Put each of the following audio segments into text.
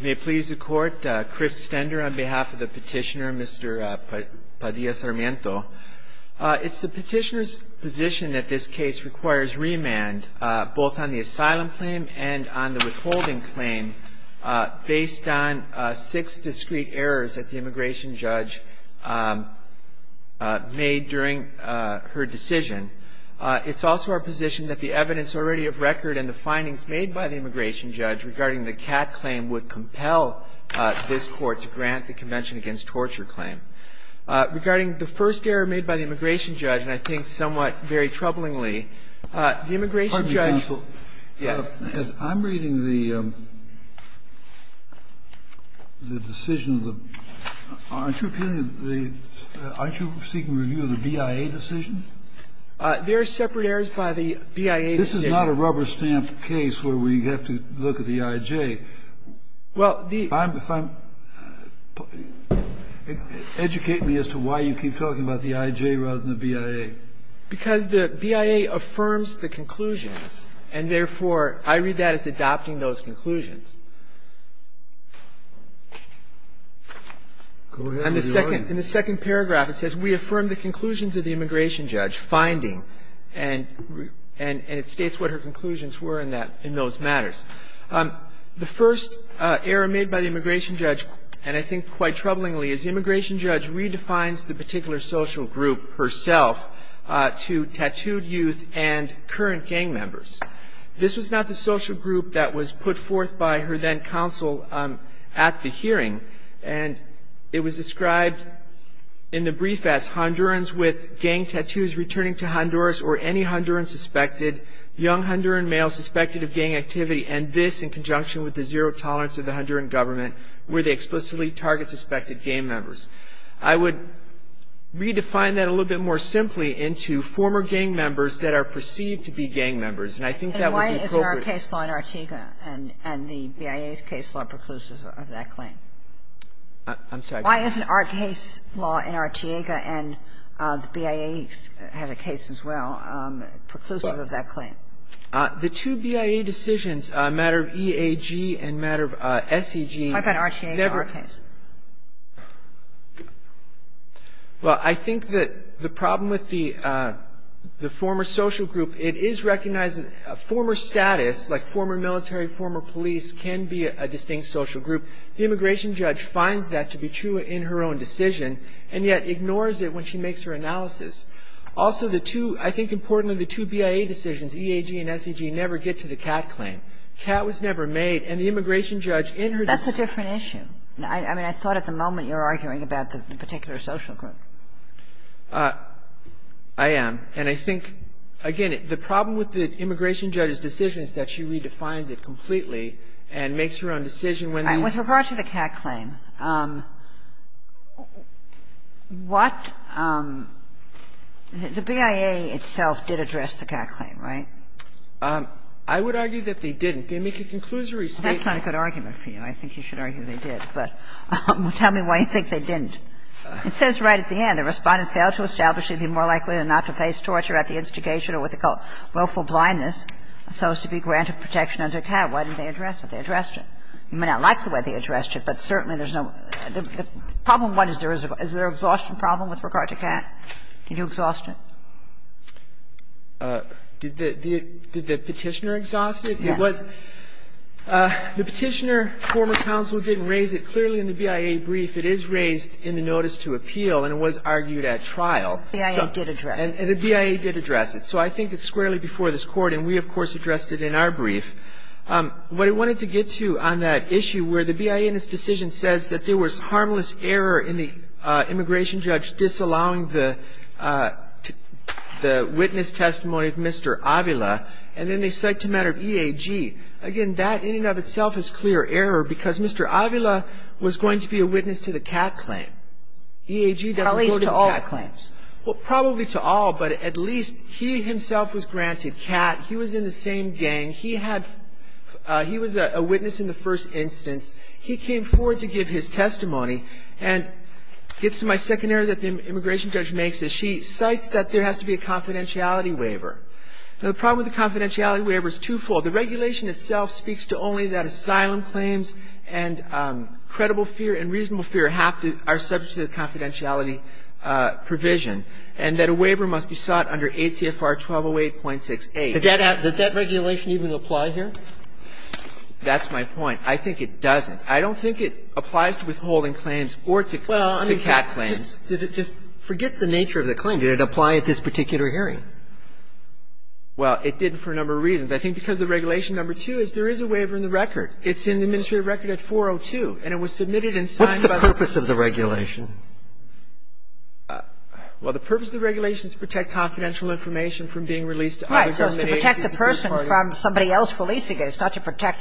May it please the Court, Chris Stender on behalf of the petitioner, Mr. Padilla-Sarmiento. It's the petitioner's position that this case requires remand, both on the asylum claim and on the withholding claim, based on six discrete errors that the immigration judge made during her decision. It's also our position that the evidence already of record and the findings made by the immigration judge regarding the CAT claim would compel this Court to grant the Convention Against Torture claim. Regarding the first error made by the immigration judge, and I think somewhat very troublingly, the immigration judge ---- Kennedy, I'm reading the decision. Aren't you seeking review of the BIA decision? There are separate errors by the BIA decision. This is not a rubber-stamp case where we have to look at the I.J. Well, the ---- Educate me as to why you keep talking about the I.J. rather than the BIA. Because the BIA affirms the conclusions, and therefore, I read that as adopting those conclusions. Go ahead. In the second paragraph, it says, We affirm the conclusions of the immigration judge finding, and it states what her conclusions were in that ---- in those matters. The first error made by the immigration judge, and I think quite troublingly, is the immigration judge redefines the particular social group herself to tattooed youth and current gang members. This was not the social group that was put forth by her then counsel at the hearing, and it was described in the brief as Hondurans with gang tattoos returning to Honduras or any Honduran suspected, young Honduran male suspected of gang activity, and this in conjunction with the zero tolerance of the Honduran government where they explicitly target suspected gang members. I would redefine that a little bit more simply into former gang members that are perceived to be gang members, and I think that was the appropriate ---- I'm sorry. Why isn't our case law in Artiega, and the BIA has a case as well, preclusive of that claim? The two BIA decisions, matter of EAG and matter of SEG, never ---- How about Artiega, our case? Well, I think that the problem with the former social group, it is recognizing former status, like former military, former police, can be a distinct social group. The immigration judge finds that to be true in her own decision, and yet ignores it when she makes her analysis. Also, the two ---- I think importantly, the two BIA decisions, EAG and SEG, never get to the Catt claim. Catt was never made, and the immigration judge in her ---- That's a different issue. I mean, I thought at the moment you were arguing about the particular social group. I am. And I think, again, the problem with the immigration judge's decision is that she is making a conclusion that the two BIA decisions never even existed. I mean, it's not that she agrees with the Catt claim. So with regard to the Catt claim, what ---- the BIA itself did address the Catt claim, right? I would argue that they didn't. They make a conclusory statement. That's not a good argument for you. I think you should argue they did. But tell me why you think they didn't. It says right at the end the Respondent failed to establish he'd be more likely than not to face torture at the instigation or what they call willful blindness so as to be granted protection under Catt. Why didn't they address it? They addressed it. You may not like the way they addressed it, but certainly there's no ---- Problem one, is there an exhaustion problem with regard to Catt? Did you exhaust it? Did the Petitioner exhaust it? Yes. The Petitioner, former counsel, didn't raise it. I think the Petitioner did. He was in the notice to appeal and was argued at trial. And the BIA did address it. And the BIA did address it. So I think it's squarely before this Court, and we, of course, addressed it in our brief. What I wanted to get to on that issue where the BIA in this decision says that there was harmless error in the immigration judge disallowing the witness testimony of Mr. Avila, and then they cite a matter of EAG. Again, that in and of itself is clear error because Mr. Avila was going to be a witness to the Catt claim. EAG doesn't go to the Catt claims. At least to all. Well, probably to all, but at least he himself was granted Catt. He was in the same gang. He had he was a witness in the first instance. He came forward to give his testimony and gets to my second error that the immigration judge makes is she cites that there has to be a confidentiality waiver. Now, the problem with the confidentiality waiver is twofold. The regulation itself speaks to only that asylum claims and credible fear and reasonable fear are subject to the confidentiality provision, and that a waiver must be sought under ACFR 1208.68. Did that regulation even apply here? That's my point. I think it doesn't. I don't think it applies to withholding claims or to Catt claims. Well, I mean, just forget the nature of the claim. Did it apply at this particular hearing? Well, it did for a number of reasons. I think because the regulation number two is there is a waiver in the record. It's in the administrative record at 402, and it was submitted and signed by the It's not the purpose of the regulation. Well, the purpose of the regulation is to protect confidential information from being released to other government agencies. Right. So it's to protect the person from somebody else releasing it. It's not to protect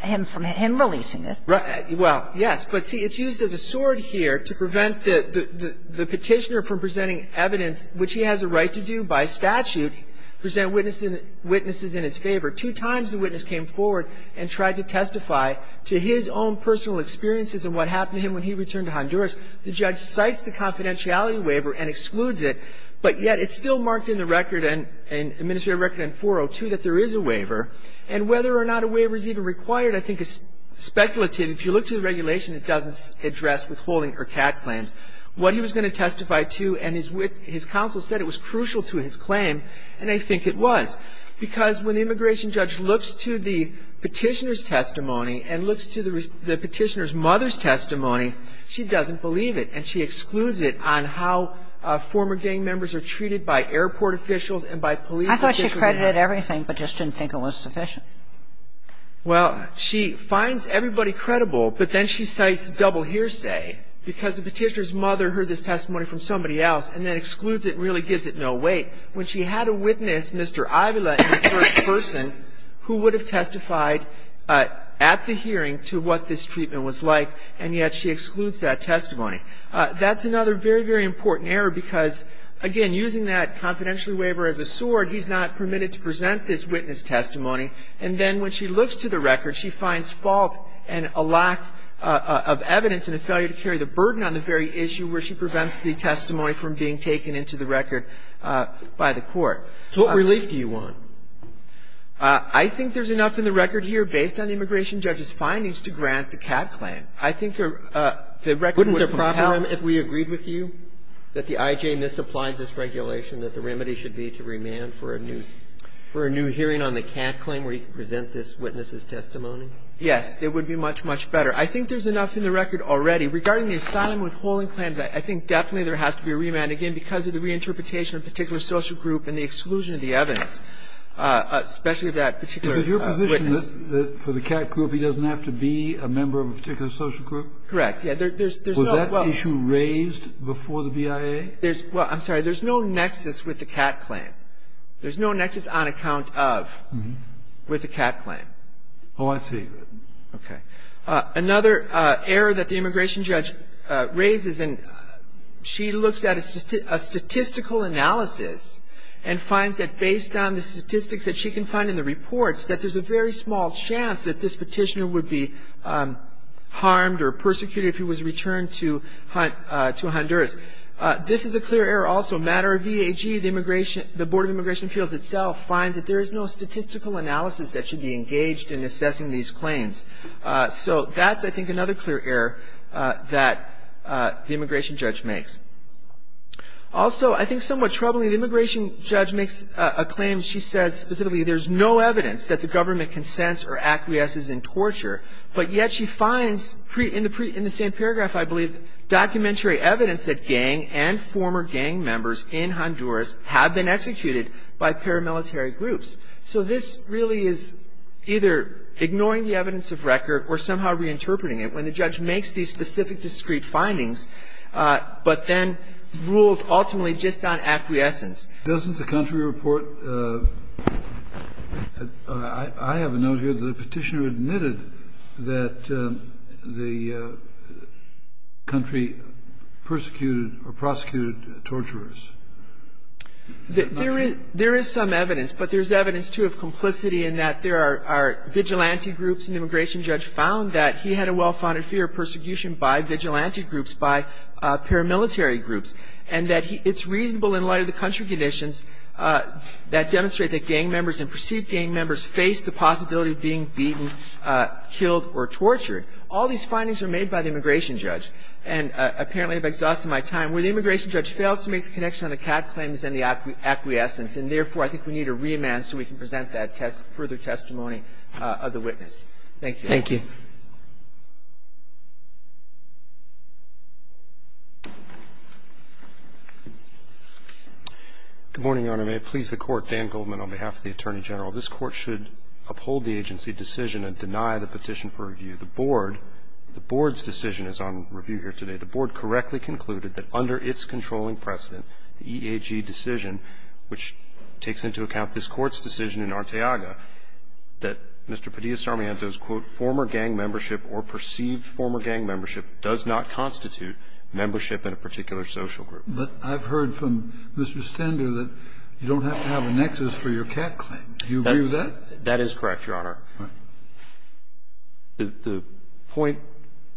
him from him releasing it. Right. Well, yes. But, see, it's used as a sword here to prevent the Petitioner from presenting evidence, which he has a right to do by statute, present witnesses in his favor. Two times the witness came forward and tried to testify to his own personal experiences and what happened to him when he returned to Honduras. The judge cites the confidentiality waiver and excludes it, but yet it's still marked in the record and administrative record in 402 that there is a waiver. And whether or not a waiver is even required I think is speculative. If you look to the regulation, it doesn't address withholding or Catt claims. What he was going to testify to and his counsel said it was crucial to his claim, and I think it was, because when the immigration judge looks to the Petitioner's testimony and looks to the Petitioner's mother's testimony, she doesn't believe it and she excludes it on how former gang members are treated by airport officials and by police officials. I thought she credited everything, but just didn't think it was sufficient. Well, she finds everybody credible, but then she cites double hearsay because the Petitioner's mother heard this testimony from somebody else and then excludes it and really gives it no weight. When she had a witness, Mr. Avila, in the first person, who would have testified at the hearing to what this treatment was like, and yet she excludes that testimony. That's another very, very important error because, again, using that confidentiality waiver as a sword, he's not permitted to present this witness testimony. And then when she looks to the record, she finds fault and a lack of evidence and a failure to carry the burden on the very issue where she prevents the testimony from being taken into the record by the court. So what relief do you want? I think there's enough in the record here based on the immigration judge's findings to grant the Catt claim. I think the record would proper him if we agreed with you that the IJ misapplied this regulation, that the remedy should be to remand for a new hearing on the Catt claim where he could present this witness's testimony? Yes. It would be much, much better. I think there's enough in the record already. Regarding the asylum withholding claims, I think definitely there has to be a remand. Again, because of the reinterpretation of a particular social group and the exclusion of the evidence, especially of that particular witness. Is it your position that for the Catt group, he doesn't have to be a member of a particular social group? Correct. Yes. Was that issue raised before the BIA? Well, I'm sorry. There's no nexus with the Catt claim. There's no nexus on account of with the Catt claim. Oh, I see. Okay. Another error that the immigration judge raises, and she looks at a statistical analysis and finds that based on the statistics that she can find in the reports that there's a very small chance that this Petitioner would be harmed or persecuted if he was returned to Honduras. This is a clear error also. Matter of VAG, the immigration the Board of Immigration Appeals itself finds that there is no statistical analysis that should be engaged in assessing these claims. So that's, I think, another clear error that the immigration judge makes. Also, I think somewhat troubling, the immigration judge makes a claim, she says specifically there's no evidence that the government consents or acquiesces in torture, but yet she finds in the same paragraph, I believe, documentary evidence that gang and former gang members in Honduras have been executed by paramilitary groups. So this really is either ignoring the evidence of record or somehow reinterpreting it when the judge makes these specific discrete findings, but then rules ultimately just on acquiescence. Doesn't the country report? I have a note here that the Petitioner admitted that the country persecuted or prosecuted torturers. There is some evidence, but there is evidence, too, of complicity in that there are vigilante groups, and the immigration judge found that he had a well-founded fear of persecution by vigilante groups, by paramilitary groups, and that it's reasonable in light of the country conditions that demonstrate that gang members and perceived gang members face the possibility of being beaten, killed or tortured. All these findings are made by the immigration judge. And apparently, I've exhausted my time. Where the immigration judge fails to make the connection on the CAD claims and the acquiescence, and therefore, I think we need a remand so we can present that further testimony of the witness. Thank you. Thank you. Good morning, Your Honor. May it please the Court, Dan Goldman on behalf of the Attorney General. This Court should uphold the agency decision and deny the petition for review. The Board, the Board's decision is on review here today. The Board correctly concluded that under its controlling precedent, the EAG decision, which takes into account this Court's decision in Arteaga, that Mr. Padilla-Sarmiento's quote, former gang membership or perceived former gang membership does not constitute membership in a particular social group. But I've heard from Mr. Stender that you don't have to have a nexus for your CAD claim. Do you agree with that? That is correct, Your Honor. The point,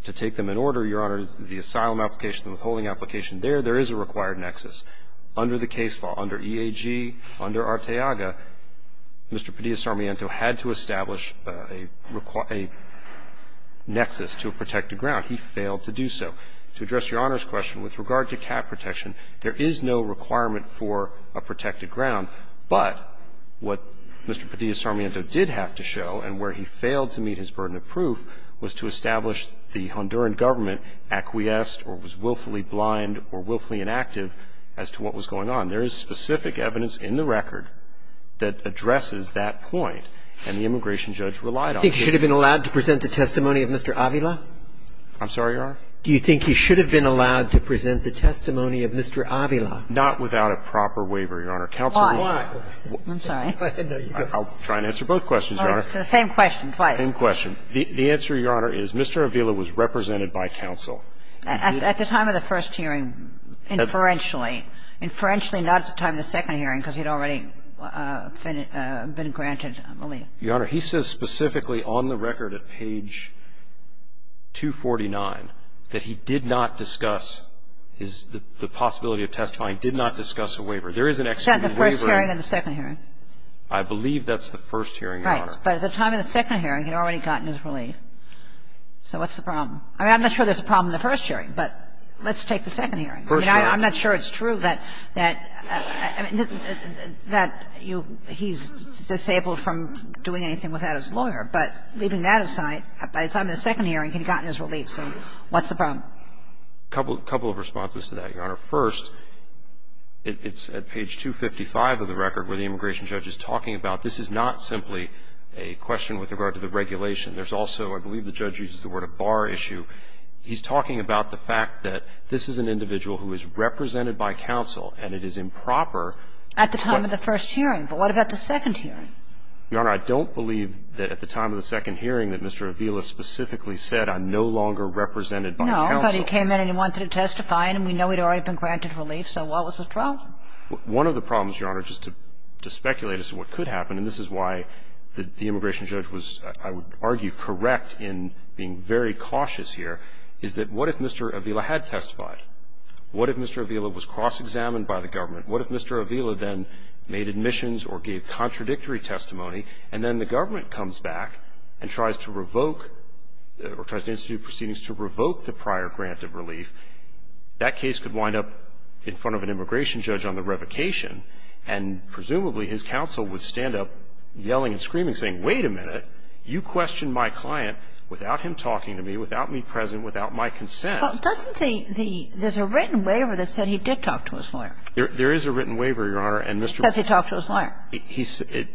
to take them in order, Your Honor, is that the asylum application and withholding application there, there is a required nexus. Under the case law, under EAG, under Arteaga, Mr. Padilla-Sarmiento had to establish a nexus to a protected ground. He failed to do so. To address Your Honor's question, with regard to CAD protection, there is no requirement for a protected ground. But what Mr. Padilla-Sarmiento did have to show and where he failed to meet his burden of proof was to establish the Honduran government acquiesced or was willfully blind or willfully inactive as to what was going on. There is specific evidence in the record that addresses that point, and the immigration judge relied on it. Do you think he should have been allowed to present the testimony of Mr. Avila? I'm sorry, Your Honor? Do you think he should have been allowed to present the testimony of Mr. Avila? Not without a proper waiver, Your Honor. Why? I'm sorry. I'll try and answer both questions, Your Honor. It's the same question, twice. Same question. The answer, Your Honor, is Mr. Avila was represented by counsel. At the time of the first hearing, inferentially. Inferentially, not at the time of the second hearing, because he had already been granted relief. Your Honor, he says specifically on the record at page 249 that he did not discuss his the possibility of testifying, did not discuss a waiver. There is an extra waiver. Is that the first hearing or the second hearing? I believe that's the first hearing, Your Honor. Right. But at the time of the second hearing, he had already gotten his relief. So what's the problem? I mean, I'm not sure there's a problem in the first hearing, but let's take the second hearing. First hearing. I mean, I'm not sure it's true that he's disabled from doing anything without his lawyer. But leaving that aside, by the time of the second hearing, he had gotten his relief. So what's the problem? A couple of responses to that, Your Honor. First, it's at page 255 of the record where the immigration judge is talking about this is not simply a question with regard to the regulation. There's also, I believe the judge uses the word, a bar issue. He's talking about the fact that this is an individual who is represented by counsel, and it is improper to question him. At the time of the first hearing. But what about the second hearing? Your Honor, I don't believe that at the time of the second hearing that Mr. Avila specifically said, I'm no longer represented by counsel. But he came in and he wanted to testify, and we know he'd already been granted relief, so what was the problem? One of the problems, Your Honor, just to speculate as to what could happen, and this is why the immigration judge was, I would argue, correct in being very cautious here, is that what if Mr. Avila had testified? What if Mr. Avila was cross-examined by the government? What if Mr. Avila then made admissions or gave contradictory testimony, and then the government comes back and tries to revoke or tries to institute proceedings to revoke the prior grant of relief, that case could wind up in front of an immigration judge on the revocation, and presumably his counsel would stand up yelling and screaming, saying, wait a minute, you questioned my client without him talking to me, without me present, without my consent. But doesn't the the – there's a written waiver that said he did talk to his lawyer. There is a written waiver, Your Honor, and Mr. Because he talked to his lawyer.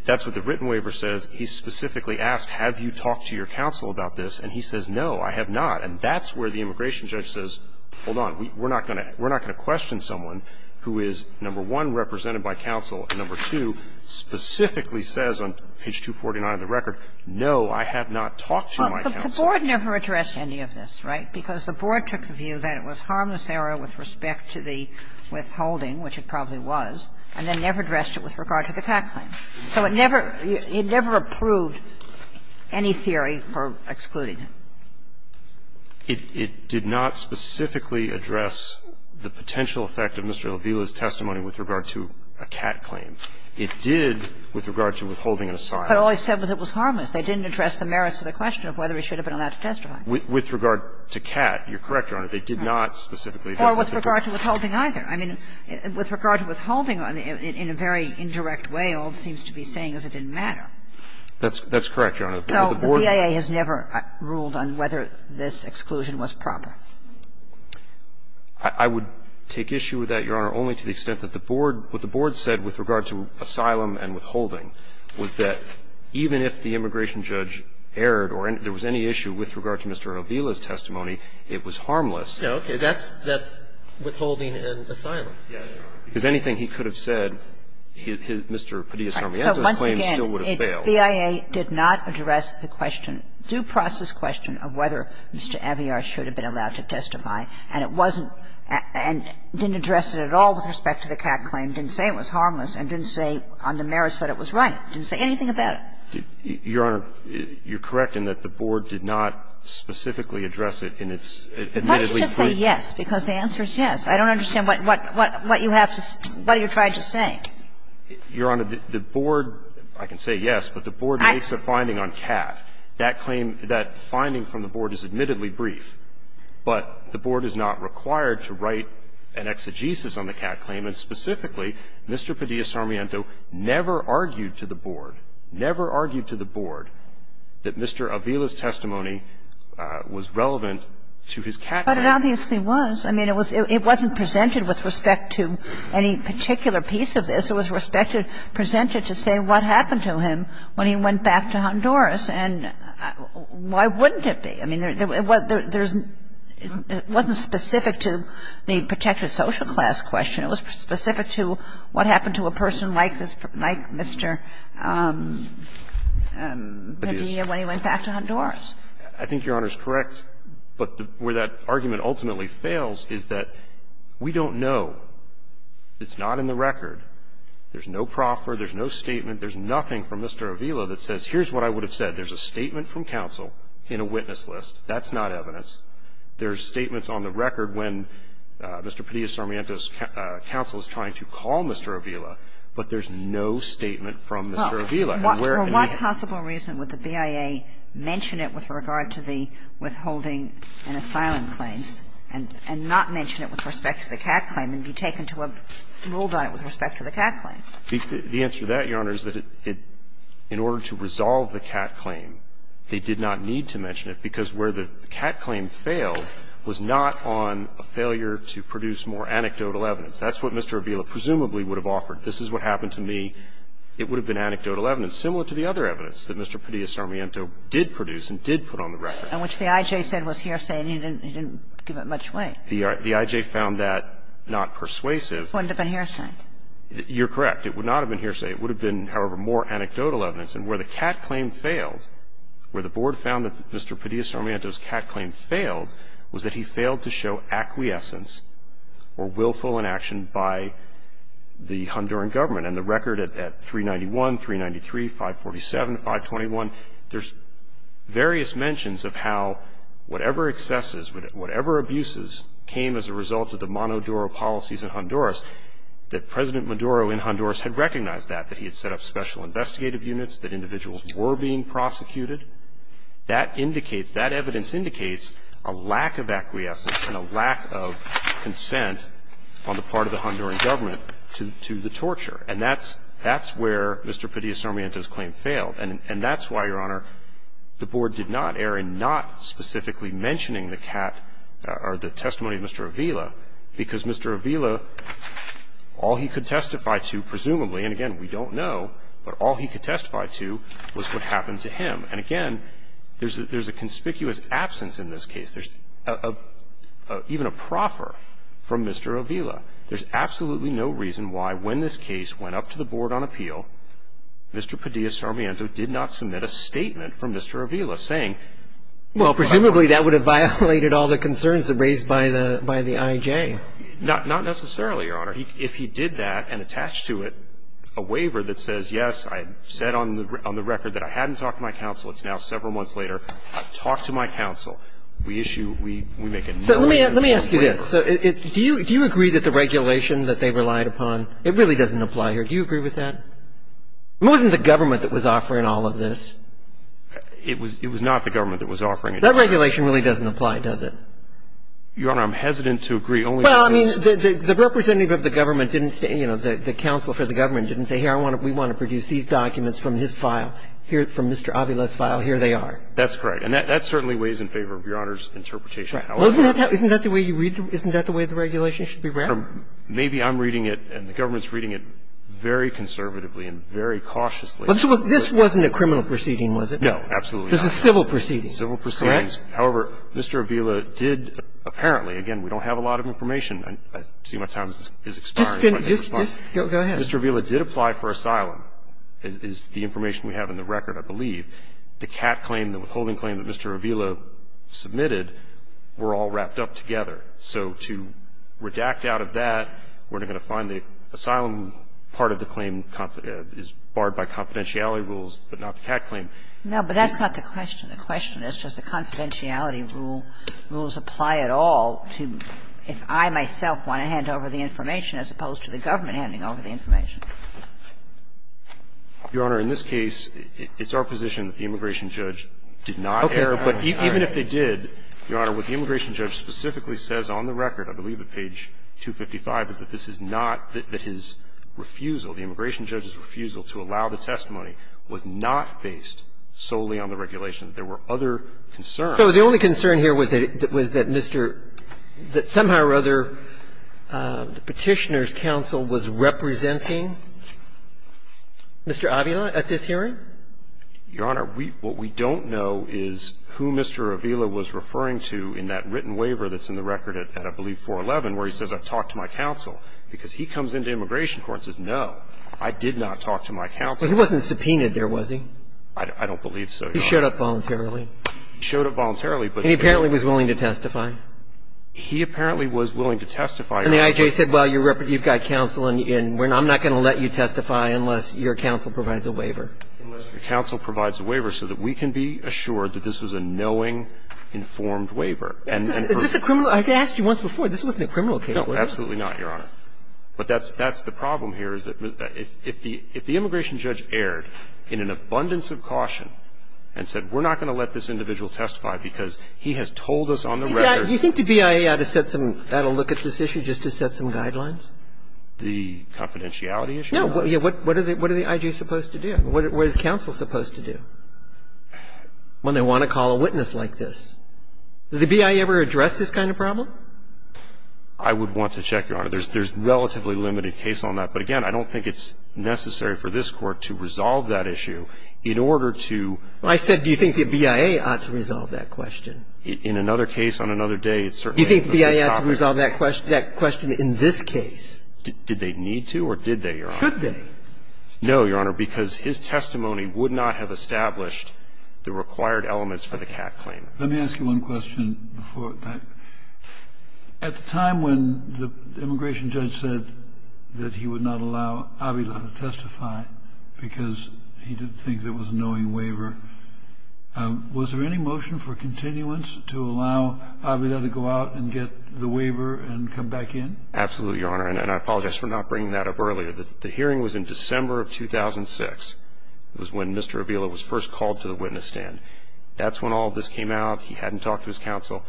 That's what the written waiver says. He specifically asked, have you talked to your counsel about this, and he says, no, I have not. And that's where the immigration judge says, hold on, we're not going to – we're not going to question someone who is, number one, represented by counsel, and number two, specifically says on page 249 of the record, no, I have not talked to my counsel. Kagan. The Board never addressed any of this, right? Because the Board took the view that it was harmless error with respect to the withholding, which it probably was, and then never addressed it with regard to the PAC claim. So it never – it never approved any theory for excluding him. It did not specifically address the potential effect of Mr. Avila's testimony with regard to a CAT claim. It did with regard to withholding an asylum. But all he said was it was harmless. They didn't address the merits of the question of whether he should have been allowed to testify. With regard to CAT, you're correct, Your Honor. They did not specifically address it. Or with regard to withholding either. I mean, with regard to withholding in a very indirect way, all it seems to be saying is it didn't matter. That's correct, Your Honor. So the BIA has never ruled on whether this exclusion was proper? I would take issue with that, Your Honor, only to the extent that the Board – what the Board said with regard to asylum and withholding was that even if the immigration judge erred or there was any issue with regard to Mr. Avila's testimony, it was harmless. Okay. That's withholding and asylum. Because anything he could have said, Mr. Padilla-Sarmiento's claim still would have failed. But the BIA did not address the question, due process question, of whether Mr. Avila should have been allowed to testify, and it wasn't – and didn't address it at all with respect to the CAT claim, didn't say it was harmless, and didn't say on the merits that it was right, didn't say anything about it. Your Honor, you're correct in that the Board did not specifically address it in its admittedly brief. Why don't you just say yes, because the answer is yes. I don't understand what you have to – what you're trying to say. Your Honor, the Board – I can say yes, but the Board makes a finding on CAT. That claim – that finding from the Board is admittedly brief, but the Board is not required to write an exegesis on the CAT claim, and specifically, Mr. Padilla-Sarmiento never argued to the Board, never argued to the Board that Mr. Avila's testimony was relevant to his CAT claim. But it obviously was. I mean, it was – it wasn't presented with respect to any particular piece of this. It was respected – presented to say what happened to him when he went back to Honduras. And why wouldn't it be? I mean, there's – it wasn't specific to the protected social class question. It was specific to what happened to a person like this, like Mr. Padilla, when he went back to Honduras. I think Your Honor's correct, but where that argument ultimately fails is that we don't know. It's not in the record. There's no proffer, there's no statement, there's nothing from Mr. Avila that says here's what I would have said. There's a statement from counsel in a witness list. That's not evidence. There's statements on the record when Mr. Padilla-Sarmiento's counsel is trying to call Mr. Avila, but there's no statement from Mr. Avila. And where – and the – For what possible reason would the BIA mention it with regard to the withholding in asylum claims and not mention it with respect to the Catt claim and be taken to have ruled on it with respect to the Catt claim? The answer to that, Your Honor, is that it – in order to resolve the Catt claim, they did not need to mention it, because where the Catt claim failed was not on a failure to produce more anecdotal evidence. That's what Mr. Avila presumably would have offered. This is what happened to me. It would have been anecdotal evidence, similar to the other evidence that Mr. Padilla-Sarmiento did produce and did put on the record. And which the I.J. said was hearsay and he didn't give it much weight. The I.J. found that not persuasive. It wouldn't have been hearsay. You're correct. It would not have been hearsay. It would have been, however, more anecdotal evidence. And where the Catt claim failed, where the Board found that Mr. Padilla-Sarmiento's Catt claim failed, was that he failed to show acquiescence or willful inaction by the Honduran government. And the record at 391, 393, 547, 521, there's various mentions of how whatever excesses, whatever abuses came as a result of the Monodoro policies in Honduras, that President Monodoro in Honduras had recognized that, that he had set up special investigative units, that individuals were being prosecuted. That indicates, that evidence indicates a lack of acquiescence and a lack of consent on the part of the Honduran government to the torture. And that's, that's where Mr. Padilla-Sarmiento's claim failed. And, and that's why, Your Honor, the Board did not err in not specifically mentioning the Catt, or the testimony of Mr. Avila, because Mr. Avila, all he could testify to, presumably, and again, we don't know, but all he could testify to was what happened to him. And again, there's a, there's a conspicuous absence in this case. There's a, a, even a proffer from Mr. Avila. There's absolutely no reason why, when this case went up to the Board on appeal, Mr. Padilla-Sarmiento did not submit a statement from Mr. Avila, saying. Well, presumably, that would have violated all the concerns that raised by the, by the IJ. Not, not necessarily, Your Honor. If he did that, and attached to it a waiver that says, yes, I said on the, on the record that I hadn't talked to my counsel. It's now several months later, I've talked to my counsel. We issue, we, we make a. So let me, let me ask you this. Do you, do you agree that the regulation that they relied upon, it really doesn't apply here? Do you agree with that? It wasn't the government that was offering all of this. It was, it was not the government that was offering it. That regulation really doesn't apply, does it? Your Honor, I'm hesitant to agree, only because. Well, I mean, the, the representative of the government didn't, you know, the, the counsel for the government didn't say, here, I want to, we want to produce these documents from his file. Here, from Mr. Avila's file, here they are. That's correct. And that, that certainly weighs in favor of Your Honor's interpretation. That's right. Isn't that the way you read the, isn't that the way the regulation should be read? Maybe I'm reading it and the government's reading it very conservatively and very cautiously. But this wasn't a criminal proceeding, was it? No, absolutely not. This is a civil proceeding. Civil proceedings. Correct? However, Mr. Avila did, apparently, again, we don't have a lot of information. I see my time is, is expiring. Just, just, just go ahead. Mr. Avila did apply for asylum, is the information we have in the record, I believe. The CAT claim, the withholding claim that Mr. Avila submitted, were all wrapped up together. So to redact out of that, we're not going to find the asylum part of the claim is barred by confidentiality rules, but not the CAT claim. No, but that's not the question. The question is, does the confidentiality rule, rules apply at all to, if I, myself, want to hand over the information as opposed to the government handing over the information? Your Honor, in this case, it's our position that the immigration judge did not err. Okay. All right. But even if they did, Your Honor, what the immigration judge specifically says on the record, I believe at page 255, is that this is not, that his refusal, the immigration judge's refusal to allow the testimony was not based solely on the regulation. There were other concerns. So the only concern here was that Mr. — that somehow or other the Petitioner's counsel was representing Mr. Avila at this hearing? Your Honor, we — what we don't know is who Mr. Avila was referring to in that written waiver that's in the record at, I believe, 411, where he says, I've talked to my counsel, because he comes into immigration court and says, no, I did not talk to my counsel. But he wasn't subpoenaed there, was he? I don't believe so, Your Honor. He showed up voluntarily. He showed up voluntarily, but he didn't — And he apparently was willing to testify. He apparently was willing to testify. And the I.J. said, well, you've got counsel and I'm not going to let you testify unless your counsel provides a waiver. Unless your counsel provides a waiver so that we can be assured that this was a knowing, informed waiver. Is this a criminal — I've asked you once before, this wasn't a criminal case, was it? No, absolutely not, Your Honor. But that's the problem here is that if the immigration judge erred in an abundance of caution and said, we're not going to let this individual testify because he has told us on the record — Do you think the BIA ought to set some — that'll look at this issue just to set some guidelines? The confidentiality issue? No. What are the I.J. supposed to do? What is counsel supposed to do when they want to call a witness like this? Does the BIA ever address this kind of problem? I would want to check, Your Honor. There's relatively limited case on that. But again, I don't think it's necessary for this Court to resolve that issue in order to — I said, do you think the BIA ought to resolve that question? In another case on another day, it's certainly a good topic. Do you think the BIA ought to resolve that question in this case? Did they need to or did they, Your Honor? Should they? No, Your Honor, because his testimony would not have established the required elements for the CAC claim. Let me ask you one question before I — at the time when the immigration judge said that he would not allow Avila to testify because he didn't think there was a knowing waiver, was there any motion for continuance to allow Avila to go out and get the waiver and come back in? Absolutely, Your Honor. And I apologize for not bringing that up earlier. The hearing was in December of 2006. It was when Mr. Avila was first called to the witness stand. That's when all of this came out. He hadn't talked to his counsel.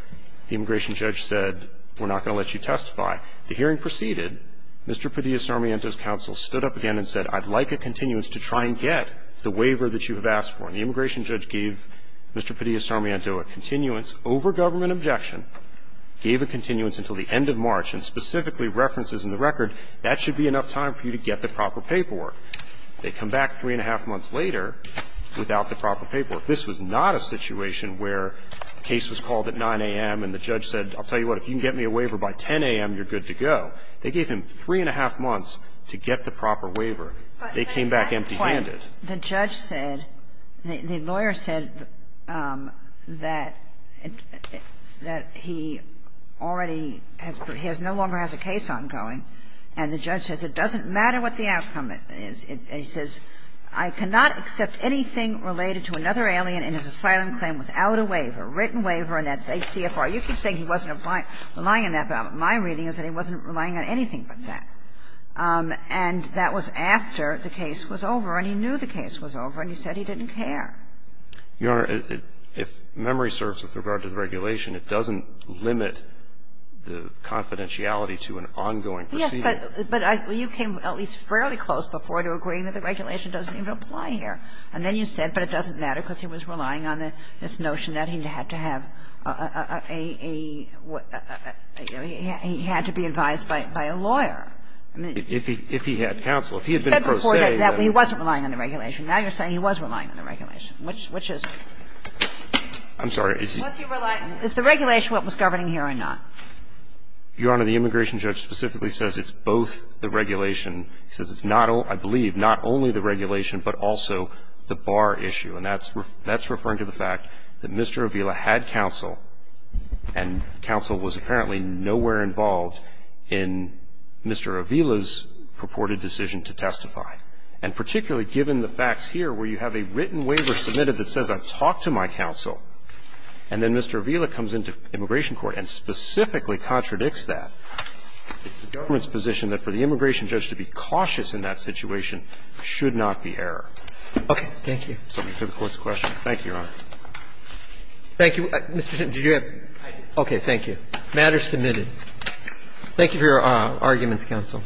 The immigration judge said, we're not going to let you testify. The hearing proceeded. Mr. Padilla-Sarmiento's counsel stood up again and said, I'd like a continuance to try and get the waiver that you have asked for. And the immigration judge gave Mr. Padilla-Sarmiento a continuance over government objection, gave a continuance until the end of March, and specifically references in the record, that should be enough time for you to get the proper paperwork. They come back three and a half months later without the proper paperwork. This was not a situation where the case was called at 9 a.m. and the judge said, I'll tell you what, if you can get me a waiver by 10 a.m., you're good to go. They gave him three and a half months to get the proper waiver. They came back empty-handed. The judge said, the lawyer said that he already has no longer has a case ongoing. And the judge says, it doesn't matter what the outcome is. He says, I cannot accept anything related to another alien in his asylum claim without a waiver, written waiver, and that's ACFR. You keep saying he wasn't relying on that, but my reading is that he wasn't relying on anything but that. And that was after the case was over, and he knew the case was over, and he said he didn't care. Your Honor, if memory serves with regard to the regulation, it doesn't limit the confidentiality to an ongoing proceeding. Yes, but you came at least fairly close before to agreeing that the regulation doesn't even apply here. And then you said, but it doesn't matter because he was relying on this notion that he had to have a, you know, he had to be advised by a lawyer. I mean, if he had counsel, if he had been a pro se. He said before that he wasn't relying on the regulation. Now you're saying he was relying on the regulation, which is. I'm sorry. Is the regulation what was governing here or not? Your Honor, the immigration judge specifically says it's both the regulation he says it's not only, I believe, not only the regulation, but also the bar issue. And that's referring to the fact that Mr. Avila had counsel, and counsel was apparently nowhere involved in Mr. Avila's purported decision to testify. And particularly given the facts here where you have a written waiver submitted that says I've talked to my counsel, and then Mr. Avila comes into immigration court and specifically contradicts that, it's the government's position that for the immigration judge to be cautious in that situation should not be error. Okay. Thank you. Excuse me. For the Court's questions. Thank you, Your Honor. Thank you. Mr. Simpson, did you have? I did. Thank you. The matter is submitted. Thank you for your arguments, counsel.